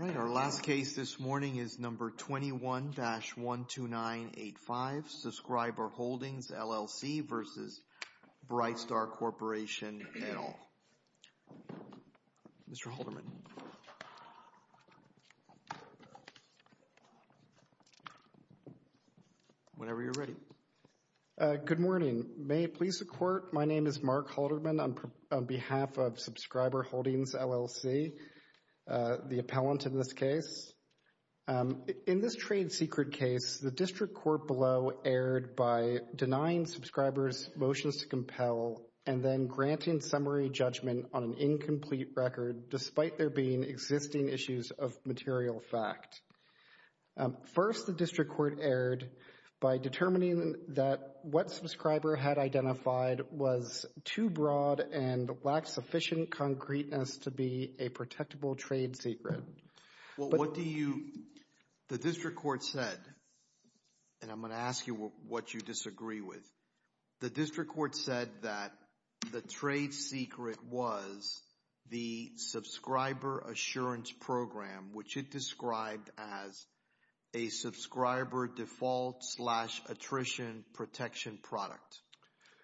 All right our last case this morning is number 21-12985, subscriber Holdings LLC v. Brightstar Corporation et al. Mr. Halderman, whenever you're ready. Good morning, may it please the court, my name is Mark Halderman on behalf of subscriber Holdings LLC, the appellant in this case. In this trade secret case the district court below erred by denying subscribers motions to compel and then granting summary judgment on an incomplete record despite there being existing issues of material fact. First the district court erred by determining that what subscriber had identified was too broad and lacked sufficient concreteness to be a protectable trade secret. Well what do you, the district court said, and I'm going to ask you what you disagree with. The district court said that the trade secret was the subscriber assurance program which it described as a subscriber default slash attrition protection product.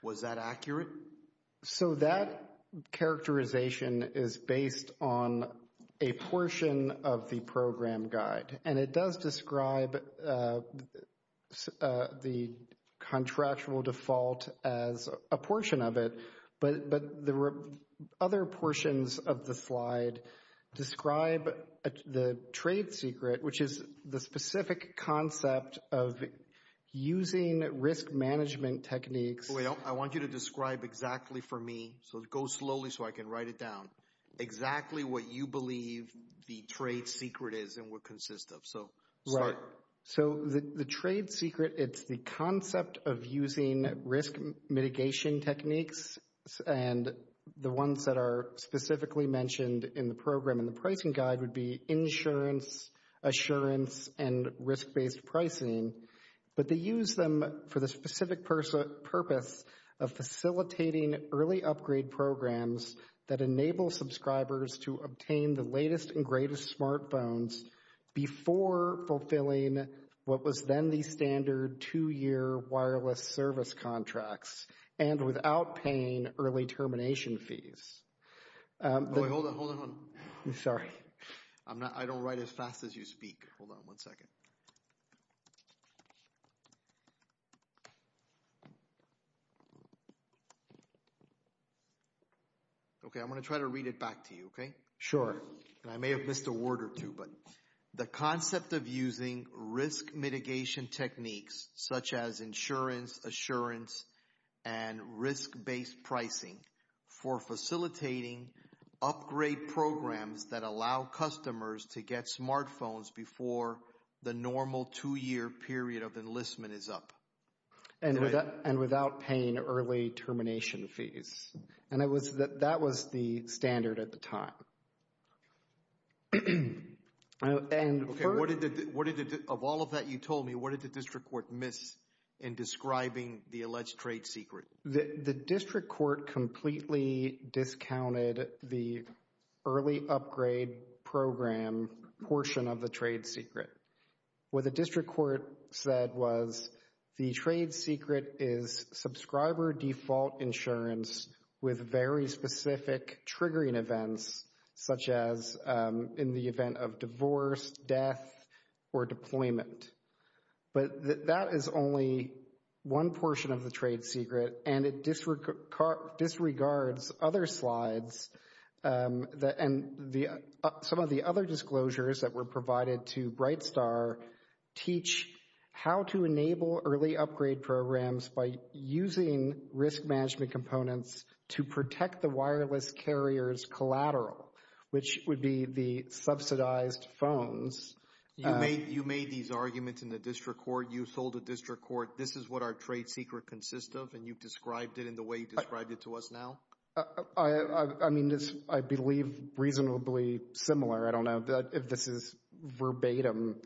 Was that accurate? So that characterization is based on a portion of the program guide and it does describe the contractual default as a portion of it, but the other portions of the slide describe the trade secret which is the specific concept of using risk management techniques. Wait, I want you to describe exactly for me, so go slowly so I can write it down, exactly what you believe the trade secret is and what consists of. So the trade secret, it's the concept of using risk mitigation techniques and the ones that are specifically mentioned in the program in the pricing guide would be insurance, assurance, and risk-based pricing, but they use them for the specific purpose of facilitating early upgrade programs that enable subscribers to obtain the latest and greatest smartphones before fulfilling what was then the standard two-year wireless service contracts and without paying early termination fees. Wait, hold on, hold on. Sorry. I'm not, I don't write as fast as you speak. Hold on one second. Okay, I'm going to try to read it back to you, okay? Sure. And I may have missed a word or two, but the concept of using risk mitigation techniques such as insurance, assurance, and risk-based pricing for facilitating upgrade programs that allow customers to get smartphones before the normal two-year period of enlistment is up. And without paying early termination fees. And it was, that was the standard at the time. Okay, what did the, what did the, of all of that you told me, what did the district court miss in describing the alleged trade secret? The district court completely discounted the early upgrade program portion of the trade secret. What the district court said was the trade secret is subscriber default insurance with very specific triggering events such as in the event of divorce, death, or deployment. But that is only one portion of the trade secret and it disregards other slides and some of the other disclosures that were provided to BrightStar teach how to enable early upgrade programs by using risk management components to protect the wireless carriers collateral, which would be the subsidized phones. You made these arguments in the district court, you sold the district court, this is what our trade secret consists of and you've described it in the way you described it to us now? I mean, I believe reasonably similar. I don't know if this verbatim,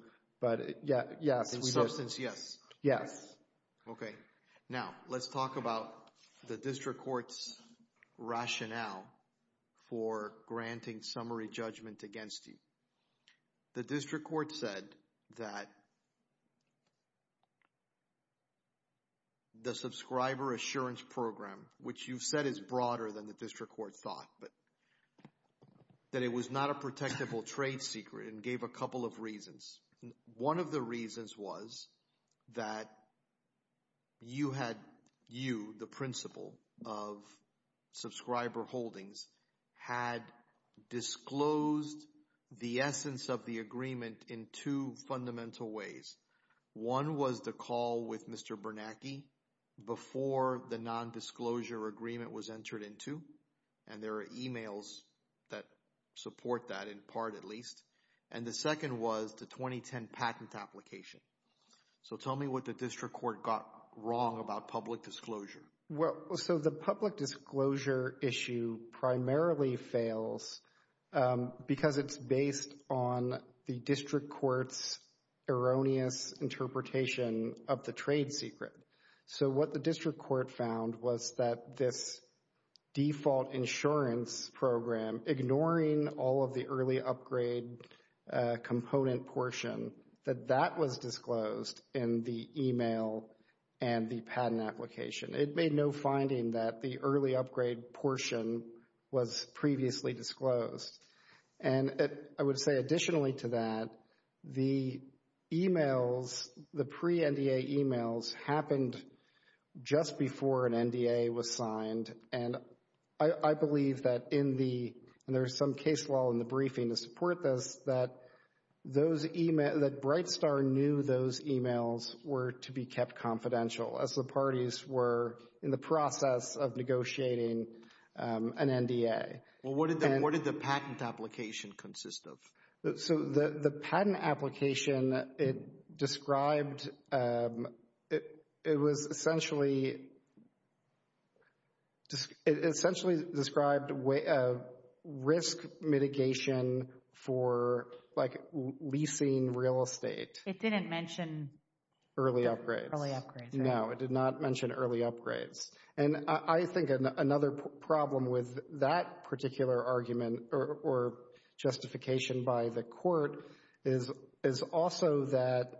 but yeah, yes. In substance, yes. Yes. Okay, now let's talk about the district court's rationale for granting summary judgment against you. The district court said that the subscriber assurance program, which you've said is broader than the district court thought, but that it was not a protectable trade secret and gave a couple of reasons. One of the reasons was that you had, you, the principal of subscriber holdings, had disclosed the essence of the agreement in two fundamental ways. One was the call with Mr. Bernanke before the non-disclosure agreement was entered into, and there are emails that support that in part at least, and the second was the 2010 patent application. So tell me what the district court got wrong about public disclosure. Well, so the public disclosure issue primarily fails because it's based on the district court's assumption that this default insurance program, ignoring all of the early upgrade component portion, that that was disclosed in the email and the patent application. It made no finding that the early upgrade portion was previously disclosed. And I would say additionally to that, the emails, the pre-NDA emails, happened just before an NDA was signed, and I believe that in the, and there's some case law in the briefing to support this, that those emails, that Brightstar knew those emails were to be kept confidential as the parties were in the process of negotiating an NDA. Well, what did the patent application consist of? So the patent application, it described, it was essentially, it essentially described a risk mitigation for like leasing real estate. It didn't mention early upgrades. No, it did not mention early upgrades. And I think another problem with that particular argument or justification by the court is also that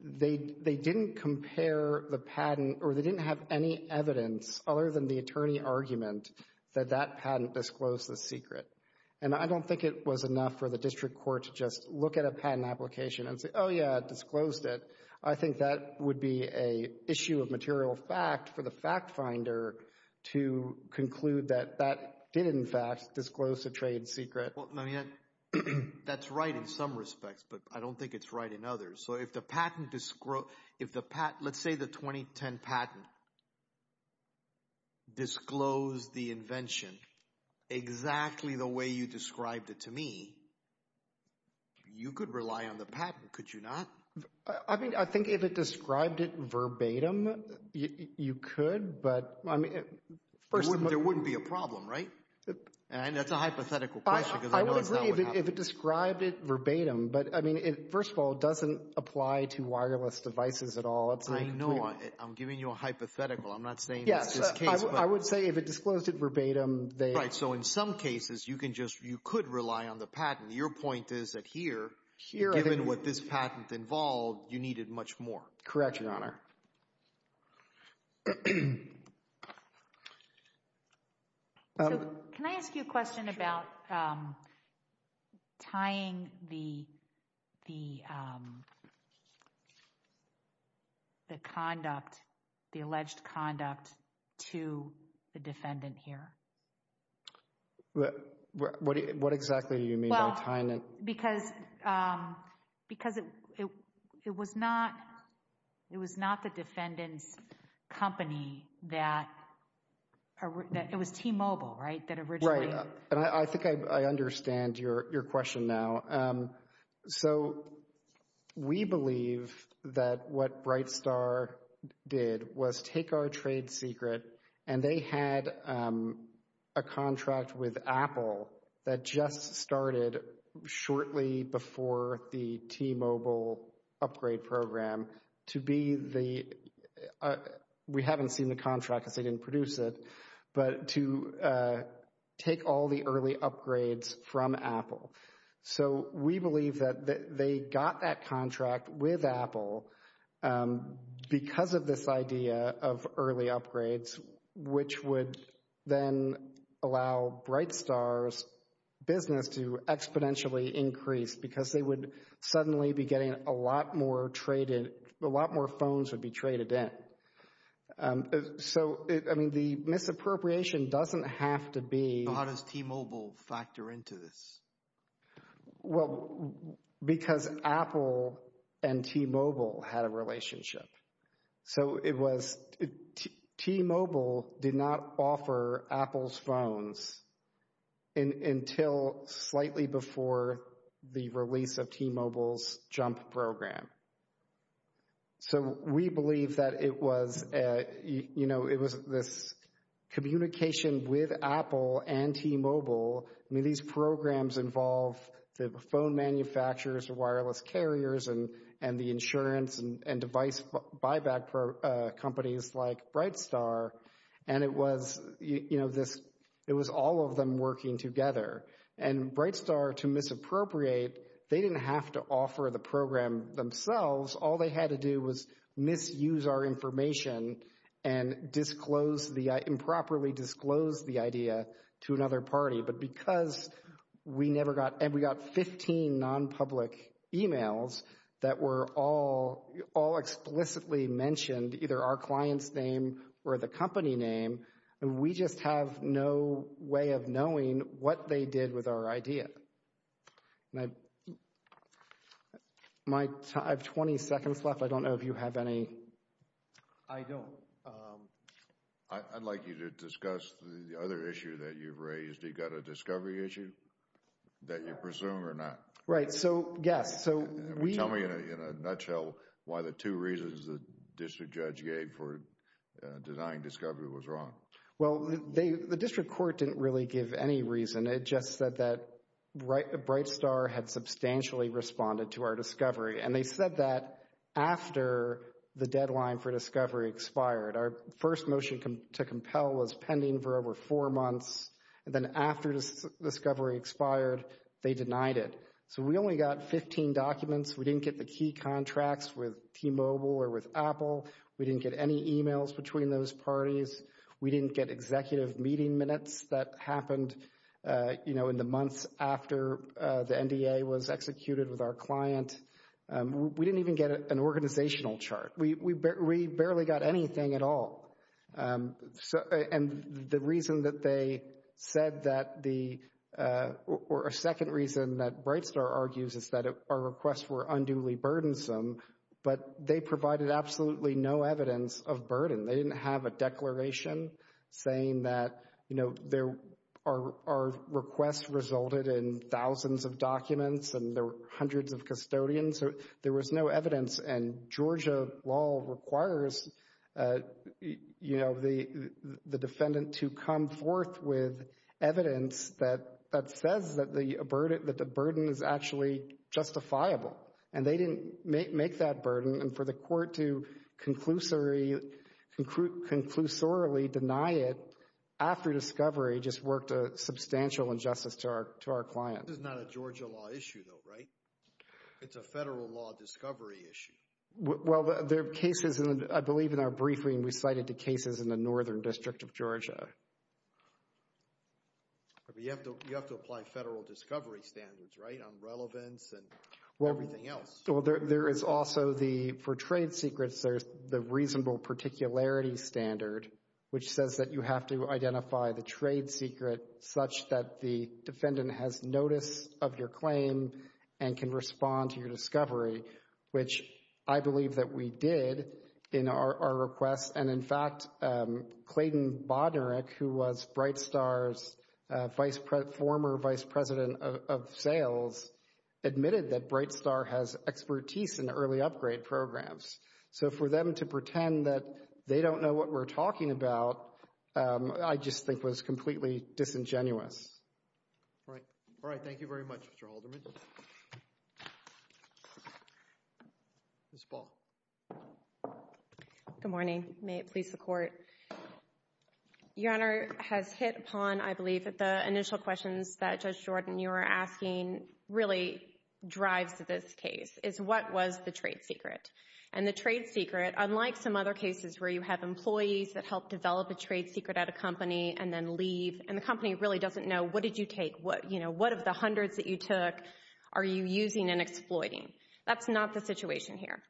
they didn't compare the patent or they didn't have any evidence other than the attorney argument that that patent disclosed the secret. And I don't think it was enough for the district court to just look at a patent application and say, oh yeah, disclosed it. I think that would be an issue of conclude that that did in fact disclose the trade secret. Well, that's right in some respects, but I don't think it's right in others. So if the patent, if the patent, let's say the 2010 patent disclosed the invention exactly the way you described it to me, you could rely on the patent, could you not? I mean, I think if it described it verbatim, you could, but I mean, there wouldn't be a problem, right? And that's a hypothetical question. I would agree if it described it verbatim, but I mean, first of all, it doesn't apply to wireless devices at all. I know. I'm giving you a hypothetical. I'm not saying that's the case. I would say if it disclosed it verbatim. Right. So in some cases, you can just, you could rely on the patent. Your point is that here, given what this patent involved, you needed much more. Correct, Your Honor. Can I ask you a question about tying the conduct, the alleged conduct to the defendant here? What exactly do you mean by tying it? Well, because it was not the defendant's company that, it was T-Mobile, right, that originally? Right. And I think I understand your question now. So we believe that what BrightStar did was take our trade secret, and they had a contract with Apple that just started shortly before the T-Mobile upgrade program to be the, we haven't seen the contract because they didn't produce it, but to take all the early upgrades from Apple. So we believe that they got that contract with Apple because of this idea of early upgrades, which would then allow BrightStar's business to exponentially increase because they would suddenly be getting a lot more traded, a lot more phones would be traded in. So, I mean, the misappropriation doesn't have to be. How does T-Mobile factor into this? Well, because Apple and T-Mobile had a relationship. So it was, T-Mobile did not offer Apple's phones until slightly before the release of T-Mobile's Jump program. So we believe that it was, you know, it was this communication with Apple and T-Mobile, I mean, these programs involve the phone manufacturers, the wireless carriers, and the insurance and device buyback companies like BrightStar. And it was, you know, this, it was all of them working together. And BrightStar, to misappropriate, they didn't have to offer the program themselves. All they had to do was misuse our information and disclose the, improperly disclose the idea to another party. But because we never got, and we got 15 non-public emails that were all explicitly mentioned, either our client's name or the company name, and we just have no way of knowing what they did with our idea. My, I have 20 seconds left. I don't know if you have any. I don't. I'd like you to discuss the other issue that you've raised. You've got a discovery issue that you presume or not. Right. So, yes. So we. Tell me in a nutshell why the two reasons the district judge gave for denying discovery was wrong. Well, they, the district court didn't really give any reason. It just said that BrightStar had substantially responded to our deadline for discovery expired. Our first motion to compel was pending for over four months. And then after discovery expired, they denied it. So we only got 15 documents. We didn't get the key contracts with T-Mobile or with Apple. We didn't get any emails between those parties. We didn't get executive meeting minutes that happened, you know, in the months after the NDA was executed with our client. We didn't even get an organizational chart. We barely got anything at all. And the reason that they said that the, or a second reason that BrightStar argues is that our requests were unduly burdensome, but they provided absolutely no evidence of burden. They didn't have a declaration saying that, you know, our requests resulted in thousands of documents and there were hundreds of custodians. There was no evidence. And Georgia law requires, you know, the defendant to come forth with evidence that says that the burden is actually justifiable. And they didn't make that burden. And for the court to conclusory, conclusorily deny it after discovery just worked a substantial injustice to our client. This is not a Georgia law issue though, right? It's a federal law discovery issue. Well, there are cases, and I believe in our briefing we cited the cases in the northern district of Georgia. You have to apply federal discovery standards, right, on relevance and everything else. Well, there is also the, for trade secrets, there's the reasonable particularity standard, which says that you have to identify the trade secret such that the defendant has notice of your claim and can respond to your discovery, which I believe that we did in our requests. And in fact, Clayton Bodnarik, who was Brightstar's former vice president of sales, admitted that Brightstar has expertise in early upgrade programs. So for them to pretend that they don't know what we're talking about, I just think was completely disingenuous. All right. All right. Thank you very much, Mr. Halderman. Ms. Ball. Good morning. May it please the court. Your Honor, has hit upon, I believe, that the initial questions that Judge Jordan, you were asking, really drives to this case, is what was the trade secret? And the trade secret, unlike some other cases where you have employees that help develop a trade secret at a company and then leave, and the company really doesn't know, what did you take? What, you know, what of the hundreds that you took are you using and exploiting? That's not the situation here.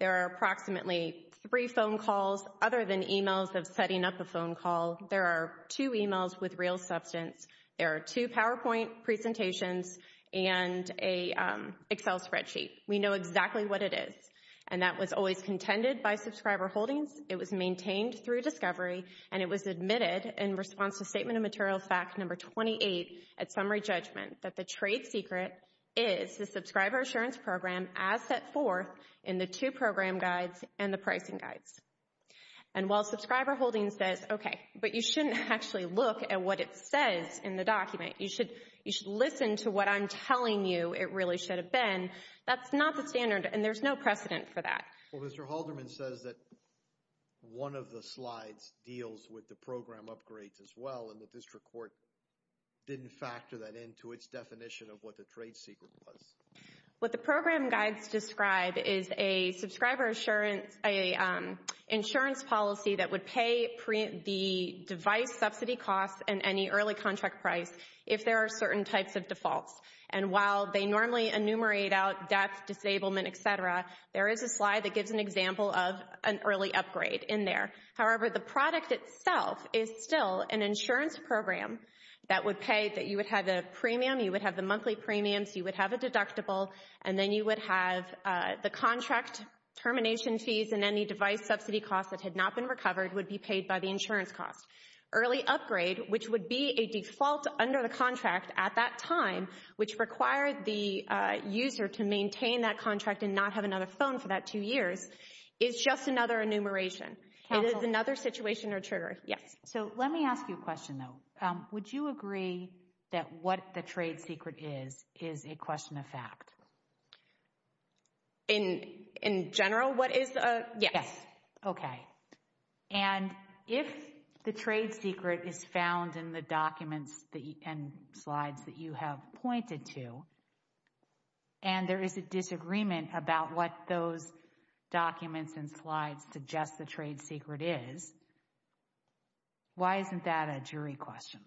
There are approximately three phone calls other than emails of setting up a phone call. There are two emails with real substance. There are two PowerPoint presentations and a Excel spreadsheet. We know exactly what it is. And that was always a discovery, and it was admitted in response to Statement of Materials Fact Number 28 at Summary Judgment, that the trade secret is the Subscriber Assurance Program as set forth in the two program guides and the pricing guides. And while Subscriber Holdings says, okay, but you shouldn't actually look at what it says in the document. You should listen to what I'm telling you it really should have been. That's not the standard, and there's no precedent for that. Well, Mr. Halderman says that one of the slides deals with the program upgrades as well, and the District Court didn't factor that into its definition of what the trade secret was. What the program guides describe is a Subscriber Assurance, an insurance policy that would pay the device subsidy costs and any early contract price if there are certain types of defaults. And while they normally enumerate out death, disablement, et cetera, there is a slide that gives an example of an early upgrade in there. However, the product itself is still an insurance program that would pay, that you would have the premium, you would have the monthly premiums, you would have a deductible, and then you would have the contract termination fees and any device subsidy costs that had not been recovered would be paid by the insurance costs. Early upgrade, which would be a default under the contract at that time, which required the user to maintain that contract and not have another phone for that two years, is just another enumeration. It is another situation or trigger. Yes. So let me ask you a question, though. Would you agree that what the trade secret is, is a question of fact? In general, what is? Yes. Yes. Okay. And if the trade secret is found in the documents and slides that you have pointed to, and there is a disagreement about what those documents and slides suggest the trade secret is, why isn't that a jury question?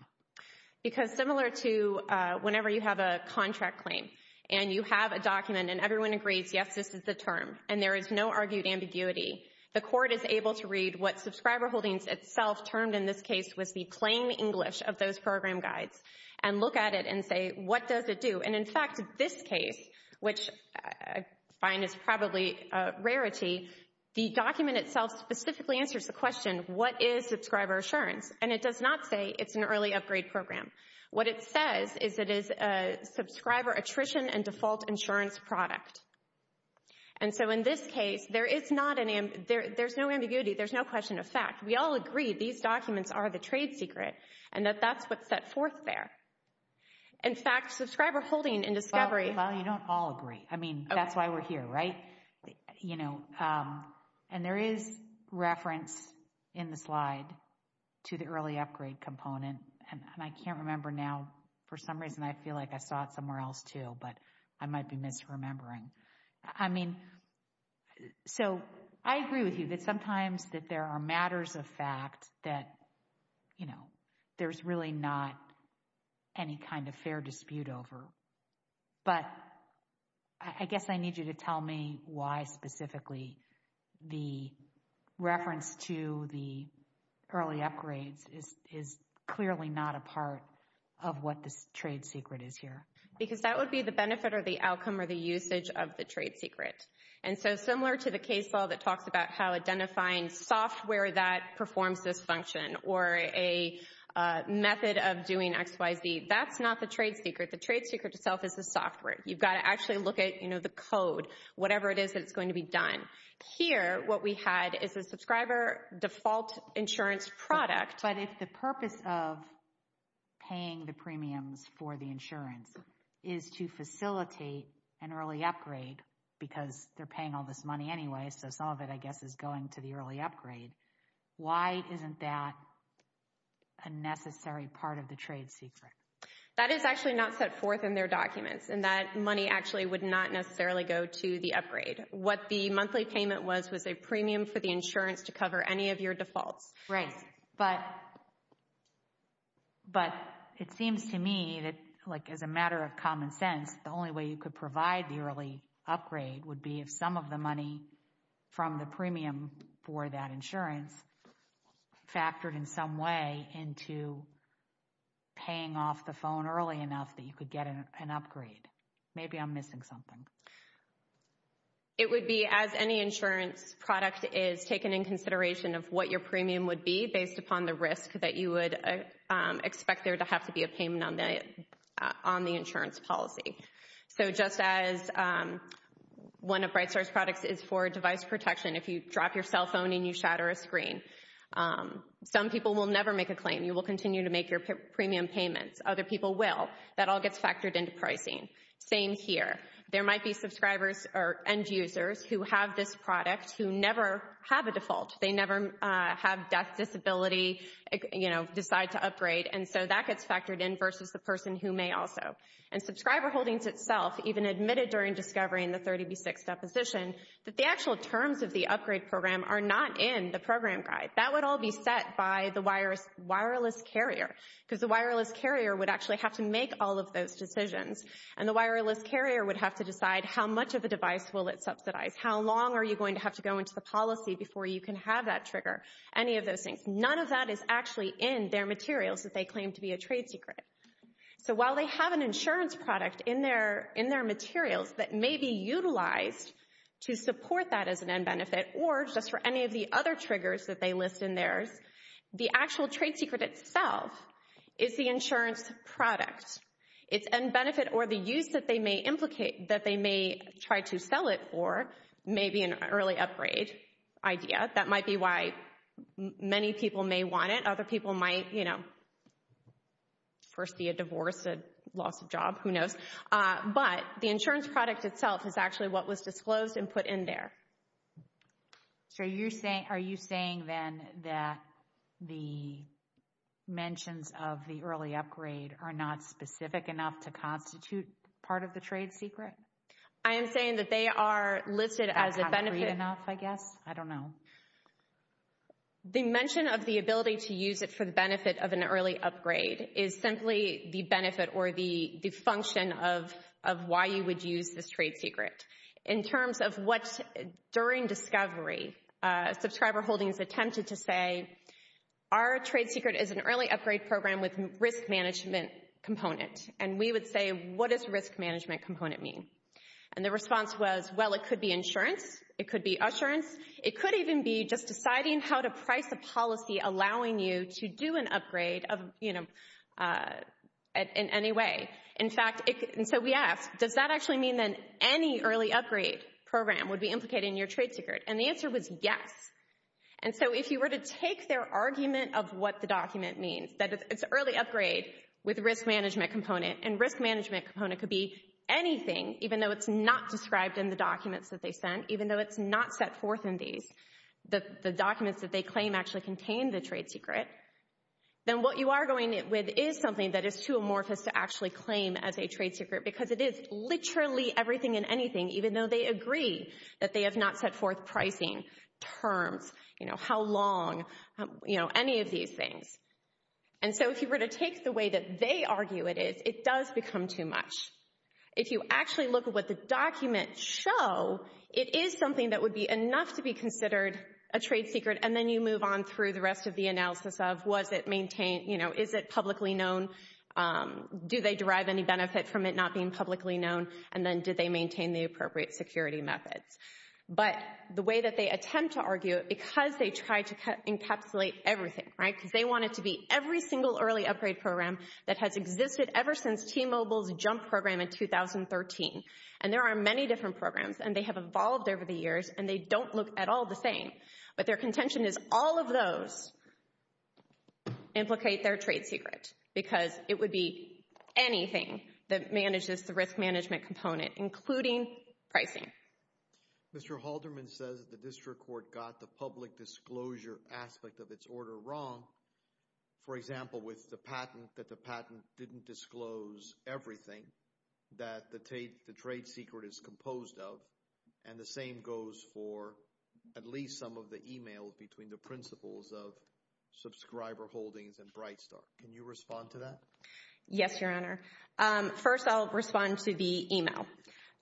Because similar to whenever you have a contract claim and you have a document and everyone agrees, yes, this is the term, and there is no argued ambiguity, the court is able to read what Subscriber Holdings itself termed in this case was the plain English of those program guides and look at it and say, what does it do? And in fact, this case, which I find is probably a rarity, the document itself specifically answers the question, what is Subscriber Assurance? And it does not say it's an early upgrade program. What it says is it is a Subscriber Attrition and Default Insurance product. And so in this case, there is no ambiguity. There's no question of fact. We all agree these documents are the trade secret and that that's what's set forth there. In fact, Subscriber Holdings in discovery. Well, you don't all agree. I mean, that's why we're here, right? You know, and there is reference in the slide to the early upgrade component, and I can't remember now. For some reason, I feel like I saw it somewhere else, too, but I might be misremembering. I mean, so I agree with you that sometimes that there are matters of fact that, you know, there's really not any kind of fair dispute over. But I guess I need you to tell me why specifically the reference to the early upgrades is clearly not a part of what this trade secret is here. Because that would be the benefit or the outcome or the usage of the trade secret. And so similar to the case law that talks about how identifying software that performs this function or a method of doing XYZ, that's not the trade secret. The trade secret itself is the software. You've got to actually look at, you know, the code, whatever it is that's going to be done. Here, what we had is a subscriber default insurance product. But if the purpose of paying the premiums for the insurance is to facilitate an early upgrade because they're paying all this money anyway, so some of it, I guess, is going to the early upgrade. Why isn't that a necessary part of the trade secret? That is actually not set forth in their trade secret. That money actually would not necessarily go to the upgrade. What the monthly payment was, was a premium for the insurance to cover any of your defaults. Right. But it seems to me that, like, as a matter of common sense, the only way you could provide the early upgrade would be if some of the money from the premium for that insurance factored in some way into paying off the phone early enough that you could get an upgrade. Maybe I'm missing something. It would be as any insurance product is taken in consideration of what your premium would be based upon the risk that you would expect there to have to be a payment on the insurance policy. So just as one of Brightstar's products is for device protection, if you drop your cell phone and you shatter a screen, some people will never make a claim. You will continue to make your premium payments. Other people will. That all gets factored into pricing. Same here. There might be subscribers or end users who have this product who never have a default. They never have that disability, you know, decide to upgrade. And so that gets factored in versus the person who may also. And subscriber holdings itself even admitted during discovering the 30B6 deposition that the actual terms of the upgrade program are not in the program guide. That would all be set by the wireless carrier, because the wireless carrier would actually have to make all of those decisions. And the wireless carrier would have to decide how much of the device will it subsidize. How long are you going to have to go into the policy before you can have that trigger? Any of those things. None of that is actually in their materials that they claim to be a trade secret. So while they have an insurance product in their materials that may be utilized to support that as an end benefit, or just for any of the other products. It's an end benefit or the use that they may try to sell it for. Maybe an early upgrade idea. That might be why many people may want it. Other people might, you know, first be a divorce, a loss of job, who knows. But the insurance product itself is actually what was disclosed and put in there. So are you saying then that the mentions of the early upgrade are not specific enough to constitute part of the trade secret? I am saying that they are listed as a benefit enough, I guess. I don't know. The mention of the ability to use it for the benefit of an early upgrade is simply the benefit or the function of why you would use this trade secret. In terms of what, during discovery, subscriber holdings attempted to say, our trade secret is an early upgrade program with risk management component. And we would say, what does risk management component mean? And the response was, well, it could be insurance. It could be assurance. It could even be just deciding how to price a policy allowing you to do an upgrade of, you know, in any way. In fact, and so we asked, does that actually mean then any early upgrade program would be implicated in your trade secret? And the answer was yes. And so if you were to take their argument of what the document means, that it's early upgrade with risk management component and risk management component could be anything, even though it's not described in the documents that they sent, even though it's not set forth in these, the documents that they claim actually contain the trade secret, then what you are going with is something that is too amorphous to actually claim as a trade secret because it is literally everything and anything, even though they agree that they have not set forth pricing terms, you know, how long, you know, any of these things. And so if you were to take the way that they argue it is, it does become too much. If you actually look at what the documents show, it is something that would be enough to be considered a trade secret. And then you move on through the rest of the analysis of was it maintained, you know, is it publicly known? Do they derive any benefit from it not being publicly known? And then did they maintain the appropriate security methods? But the way that they attempt to argue it, because they try to encapsulate everything, right? Because they want it to be every single early upgrade program that has existed ever since T-Mobile's Jump program in 2013. And there are many different programs, and they have evolved over the years, and they don't look at all the same. But their contention is all of those implicate their trade secret, because it would be anything that manages the risk management component, including pricing. Mr. Halderman says the district court got the public disclosure aspect of its order wrong. For example, with the patent, that the patent didn't disclose everything that the trade secret is composed of. And the same goes for at least some of the emails between the principals of Subscriber Holdings and BrightStar. Can you respond to that? Yes, Your Honor. First, I'll respond to the email.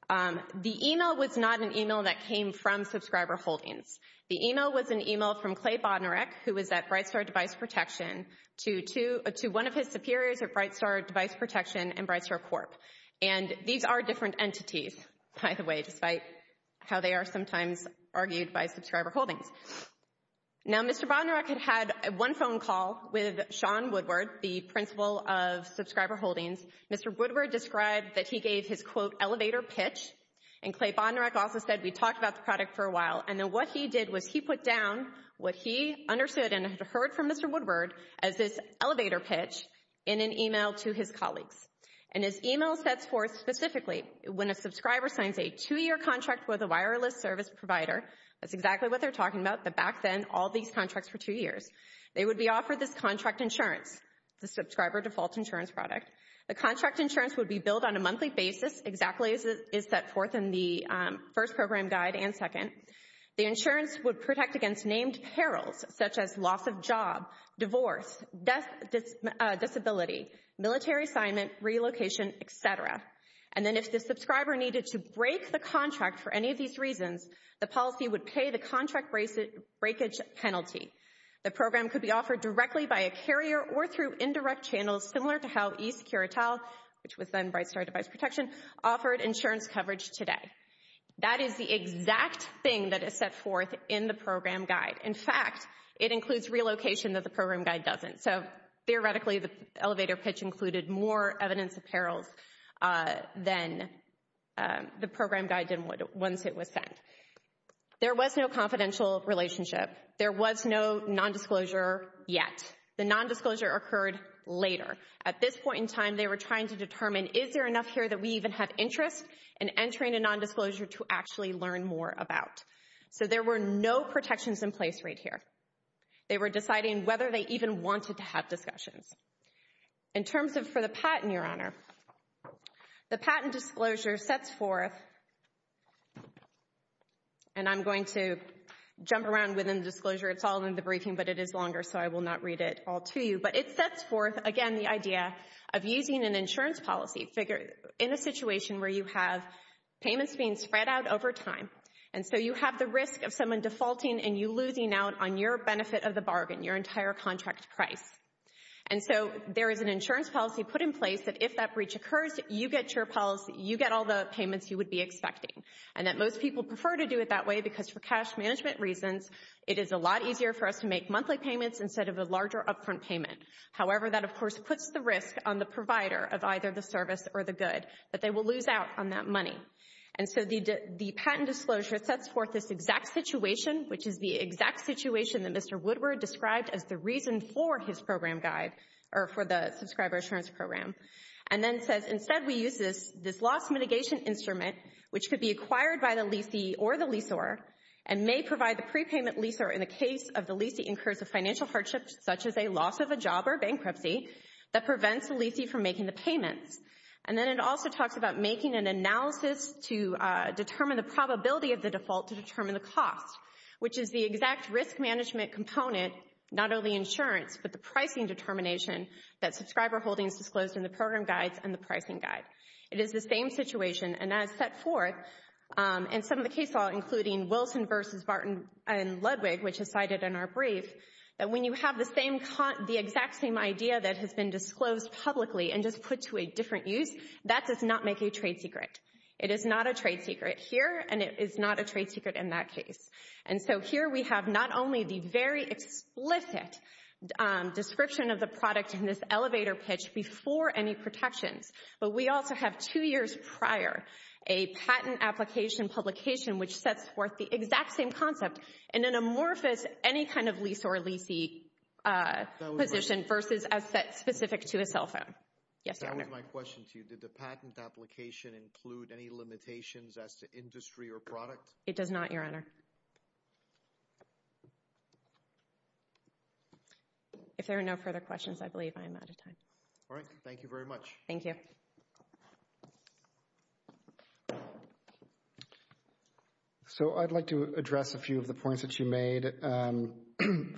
The email was not an email that came from Subscriber Holdings. The email was an email from Clay Bodnarek, who was at BrightStar Device Protection, to one of his superiors at BrightStar Device Protection and BrightStar Corp. And these are different entities, by the way, despite how they are sometimes argued by Subscriber Holdings. Now, Mr. Bodnarek had had one phone call with Sean Woodward, the principal of Subscriber Holdings. Mr. Woodward described that he gave his, quote, elevator pitch. And Clay Bodnarek also said, we talked about the product for a while. And then what he did was he put down what he understood and had heard from Mr. Woodward as this elevator pitch in an email to his colleagues. And his email sets forth specifically, when a subscriber signs a two-year contract with a wireless service provider, that's exactly what they're talking about, the back then, all these contracts for two years, they would be offered this contract insurance, the Subscriber Default Insurance product. The contract insurance would be billed on a monthly basis, exactly as set forth in the first program guide and second. The insurance would protect against named perils, such as loss of job, divorce, disability, military assignment, relocation, et cetera. And then if the subscriber needed to break the contract for any of these reasons, the policy would pay the contract breakage penalty. The program could be offered directly by a carrier or through indirect channels similar to how eSecurital, which was then BrightStar Device Protection, offered insurance coverage today. That is the exact thing that is set forth in the program guide. In fact, it includes relocation that the program guide doesn't. So theoretically, the elevator pitch included more evidence of perils than the program guide did once it was sent. There was no confidential relationship. There was no nondisclosure yet. The nondisclosure occurred later. At this point in time, they were trying to determine, is there enough here that we even have interest in entering a nondisclosure to actually learn more about? So there were no protections in place right here. They were deciding whether they even wanted to have discussions. In terms of for the patent, Your Honor, the patent disclosure sets forth, and I'm going to jump around within the disclosure. It's all in the briefing, but it is longer, so I will not read it all to you. But it sets forth, again, the idea of using an insurance policy figure in a situation where you have payments being spread out over time. And so you have the risk of someone defaulting and you losing out on your benefit of the bargain, your entire contract price. And so there is an insurance policy put in place that if that breach occurs, you get your policy, you get all the payments you would be expecting. And that most people prefer to do it that way because for cash management reasons, it is a lot easier for us to make monthly payments instead of a larger upfront payment. However, that, of course, puts the risk on the provider of either the service or the good, but they will lose out on that money. And so the patent disclosure sets forth this exact situation, which is the exact situation that Mr. Woodward described as the reason for his program guide or for the Subscriber Assurance Program. And then says, instead, we use this loss mitigation instrument, which could be acquired by the leasee or the leasor and may provide the prepayment leaser in the case of the leasee incursive financial hardships, such as a loss of a job or bankruptcy that prevents the leasee from making the payments. And then it also talks about making an analysis to determine the probability of the default to determine the cost, which is the exact risk management component, not only insurance, but the pricing determination that subscriber holdings disclosed in the program guides and the pricing guide. It is the same situation, and that is set forth in some of the case law, including Wilson versus Barton and Ludwig, which is cited in our brief, that when you have the exact same idea that has been disclosed publicly and just put to a different use, that does not make a trade secret. It is not a trade secret here, and it is not a trade secret in that case. And so here we have not only the very explicit description of the product in this elevator pitch before any protections, but we also have two years prior a patent application which sets forth the exact same concept in an amorphous, any kind of lease or leasee position versus as set specific to a cell phone. Yes, Your Honor. That was my question to you. Did the patent application include any limitations as to industry or product? It does not, Your Honor. If there are no further questions, I believe I am out of time. All right, thank you very much. Thank you. So I would like to address a few of the points that you made.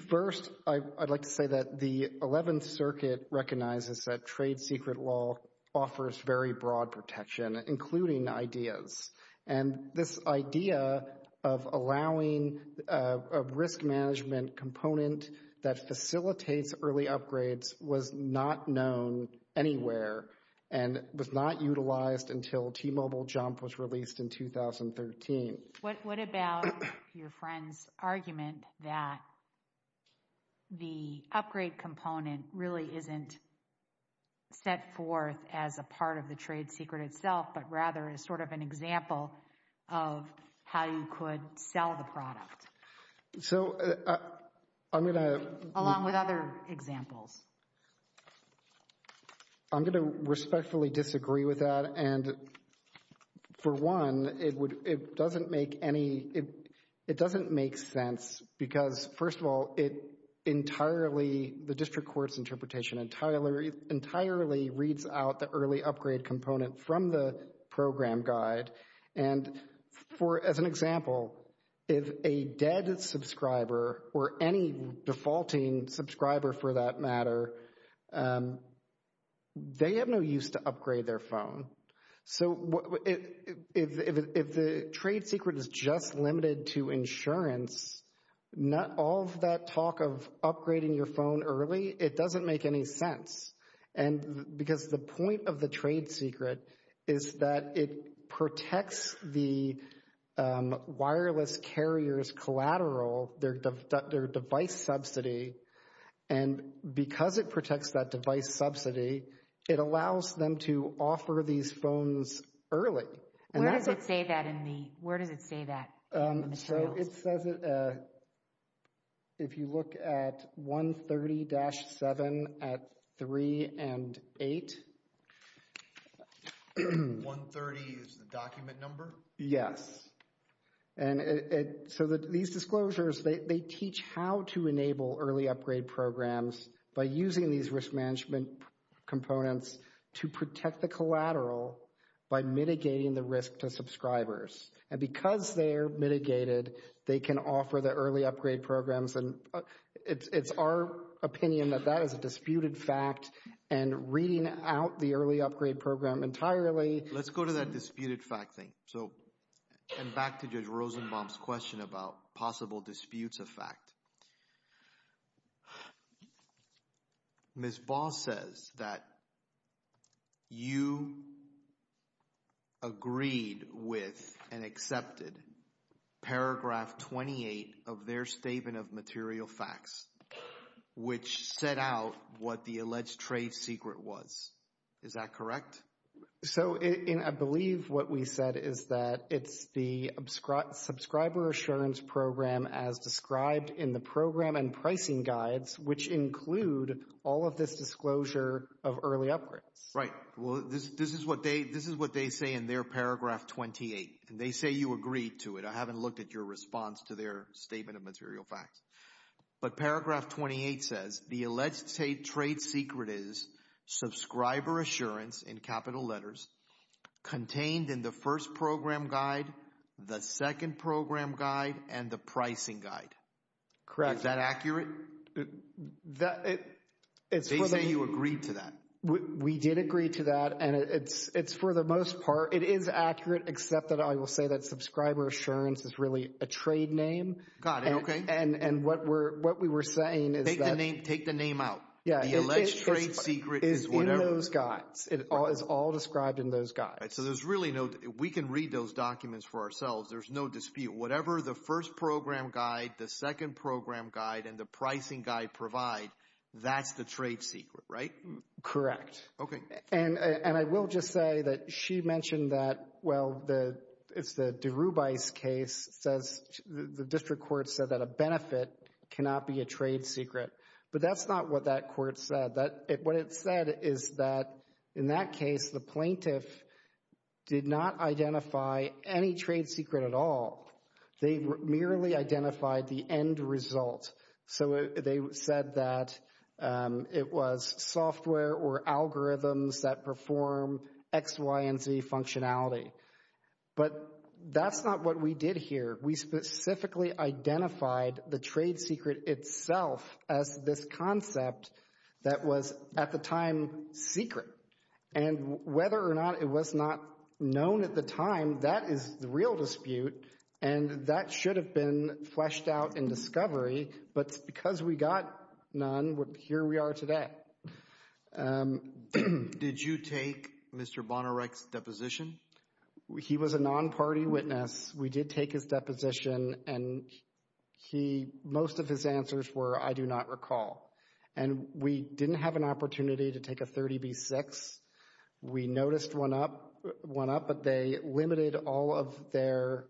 First, I would like to say that the Eleventh Circuit recognizes that trade secret law offers very broad protection, including ideas. And this idea of allowing a risk management component that facilitates early upgrades was not known anywhere and was not utilized until T-Mobile Jump was released in 2013. What about your friend's argument that the upgrade component really isn't set forth as a part of the trade secret itself, but rather as sort of an example of how you could sell the product, along with other examples? I'm going to respectfully disagree with that. And for one, it doesn't make sense because, first of all, the district court's interpretation entirely reads out the early upgrade component from the program guide. And as an example, if a dead subscriber or any defaulting subscriber, for that matter, they have no use to upgrade their phone. So if the trade secret is just limited to insurance, all of that talk of upgrading your phone early, it doesn't make any sense. And because the point of the trade secret is that it protects the wireless carrier's collateral, their device subsidy. And because it protects that device subsidy, it allows them to offer these phones early. Where does it say that in the materials? It says, if you look at 130-7 at 3 and 8. 130 is the document number? Yes. And so these disclosures, they teach how to enable early upgrade programs by using these risk management components to protect the collateral by mitigating the risk to subscribers. And because they're mitigated, they can offer the early upgrade programs. And it's our opinion that that is a disputed fact. And reading out the early upgrade program entirely... Let's go to that disputed fact thing. So, and back to Judge Rosenbaum's about possible disputes of fact. Ms. Ball says that you agreed with and accepted paragraph 28 of their statement of material facts, which set out what the alleged trade secret was. Is that correct? So, I believe what we said is that it's the subscriber assurance program as described in the program and pricing guides, which include all of this disclosure of early upgrades. Right. Well, this is what they say in their paragraph 28. And they say you agreed to it. I haven't looked at your response to their statement of material facts. But paragraph 28 says the alleged trade secret is subscriber assurance in capital letters contained in the first program guide, the second program guide, and the pricing guide. Correct. Is that accurate? They say you agreed to that. We did agree to that. And it's for the most part, it is accurate, except that I will say that Take the name out. The alleged trade secret is whatever. Is in those guides. It's all described in those guides. So, there's really no... We can read those documents for ourselves. There's no dispute. Whatever the first program guide, the second program guide, and the pricing guide provide, that's the trade secret, right? Correct. Okay. And I will just say that she mentioned that, well, it's the DeRubis case, the district court said that a benefit cannot be a trade secret. But that's not what that court said. What it said is that in that case, the plaintiff did not identify any trade secret at all. They merely identified the end result. So, they said that it was software or algorithms that perform X, Y, and Z functionality. But that's not what we did here. We specifically identified the trade secret itself as this concept that was at the time secret. And whether or not it was not known at the time, that is the real dispute. And that should have been fleshed out in discovery. But because we got none, here we are today. Did you take Mr. Bonorek's deposition? He was a non-party witness. We did take his deposition. And most of his answers were, I do not recall. And we didn't have an opportunity to take a 30B-6. We noticed one up, but they limited all of the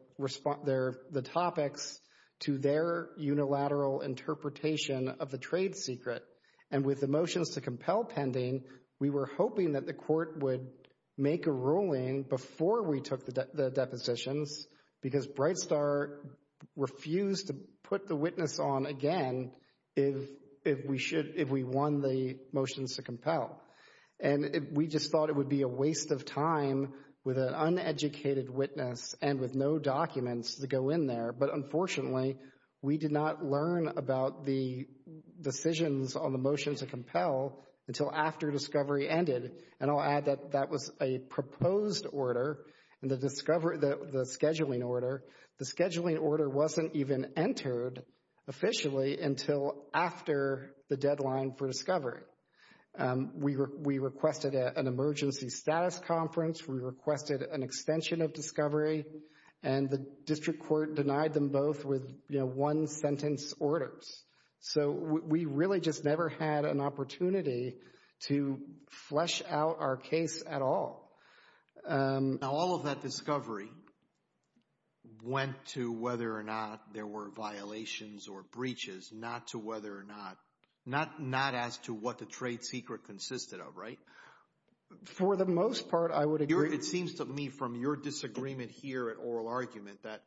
topics to their unilateral interpretation of the trade secret. And with the motions to compel pending, we were hoping that the court would make a ruling before we took the depositions because BrightStar refused to put the witness on again if we won the motions to compel. And we just thought it would be a waste of time with an uneducated witness and with no documents to go in there. But unfortunately, we did not learn about the decisions on the motions to compel until after discovery ended. And I'll add that that was a proposed order, the scheduling order. The scheduling order wasn't even entered officially until after the deadline for discovery. We requested an emergency status conference. We requested an extension of discovery. And the district court denied them both with one-sentence orders. So we really just never had an opportunity to flesh out our case at all. Now, all of that discovery went to whether or not there were violations or breaches, not to whether or not, not as to what the trade secret consisted of, right? For the most part, I would agree. It seems to me from your disagreement here at Oral Argument that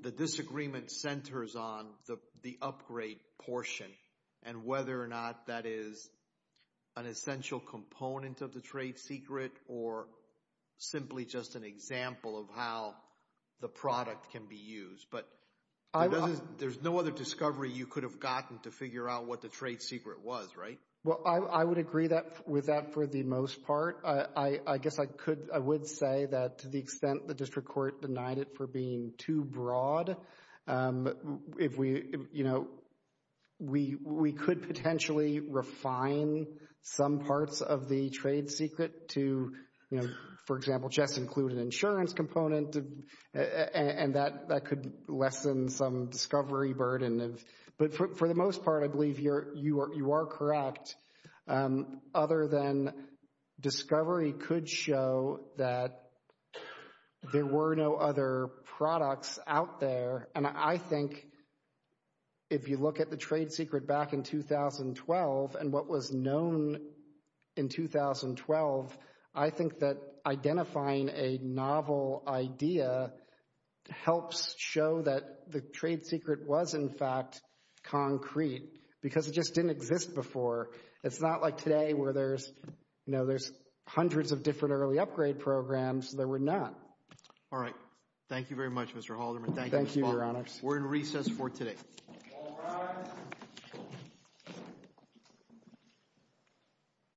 the disagreement centers on the upgrade portion and whether or not that is an essential component of the trade secret or simply just an example of how the product can be used. But there's no other discovery you could have gotten to figure out what the trade secret was, right? Well, I would agree with that for the most part. I guess I would say that to the extent the district court denied it for being too broad, if we, you know, we could potentially refine some parts of the trade secret to, you know, for example, just include an insurance component and that could lessen some discovery burden. But for the most part, I believe you are correct. Other than discovery could show that there were no other products out there. And I think if you look at the trade secret back in 2012 and what was known in 2012, I think that identifying a novel idea helps show that the trade secret was in fact concrete because it just didn't exist before. It's not like today where there's, you know, there's hundreds of different early upgrade programs that were not. All right. Thank you very much, Mr. Halderman. Thank you, Your Honor. We're in recess for today.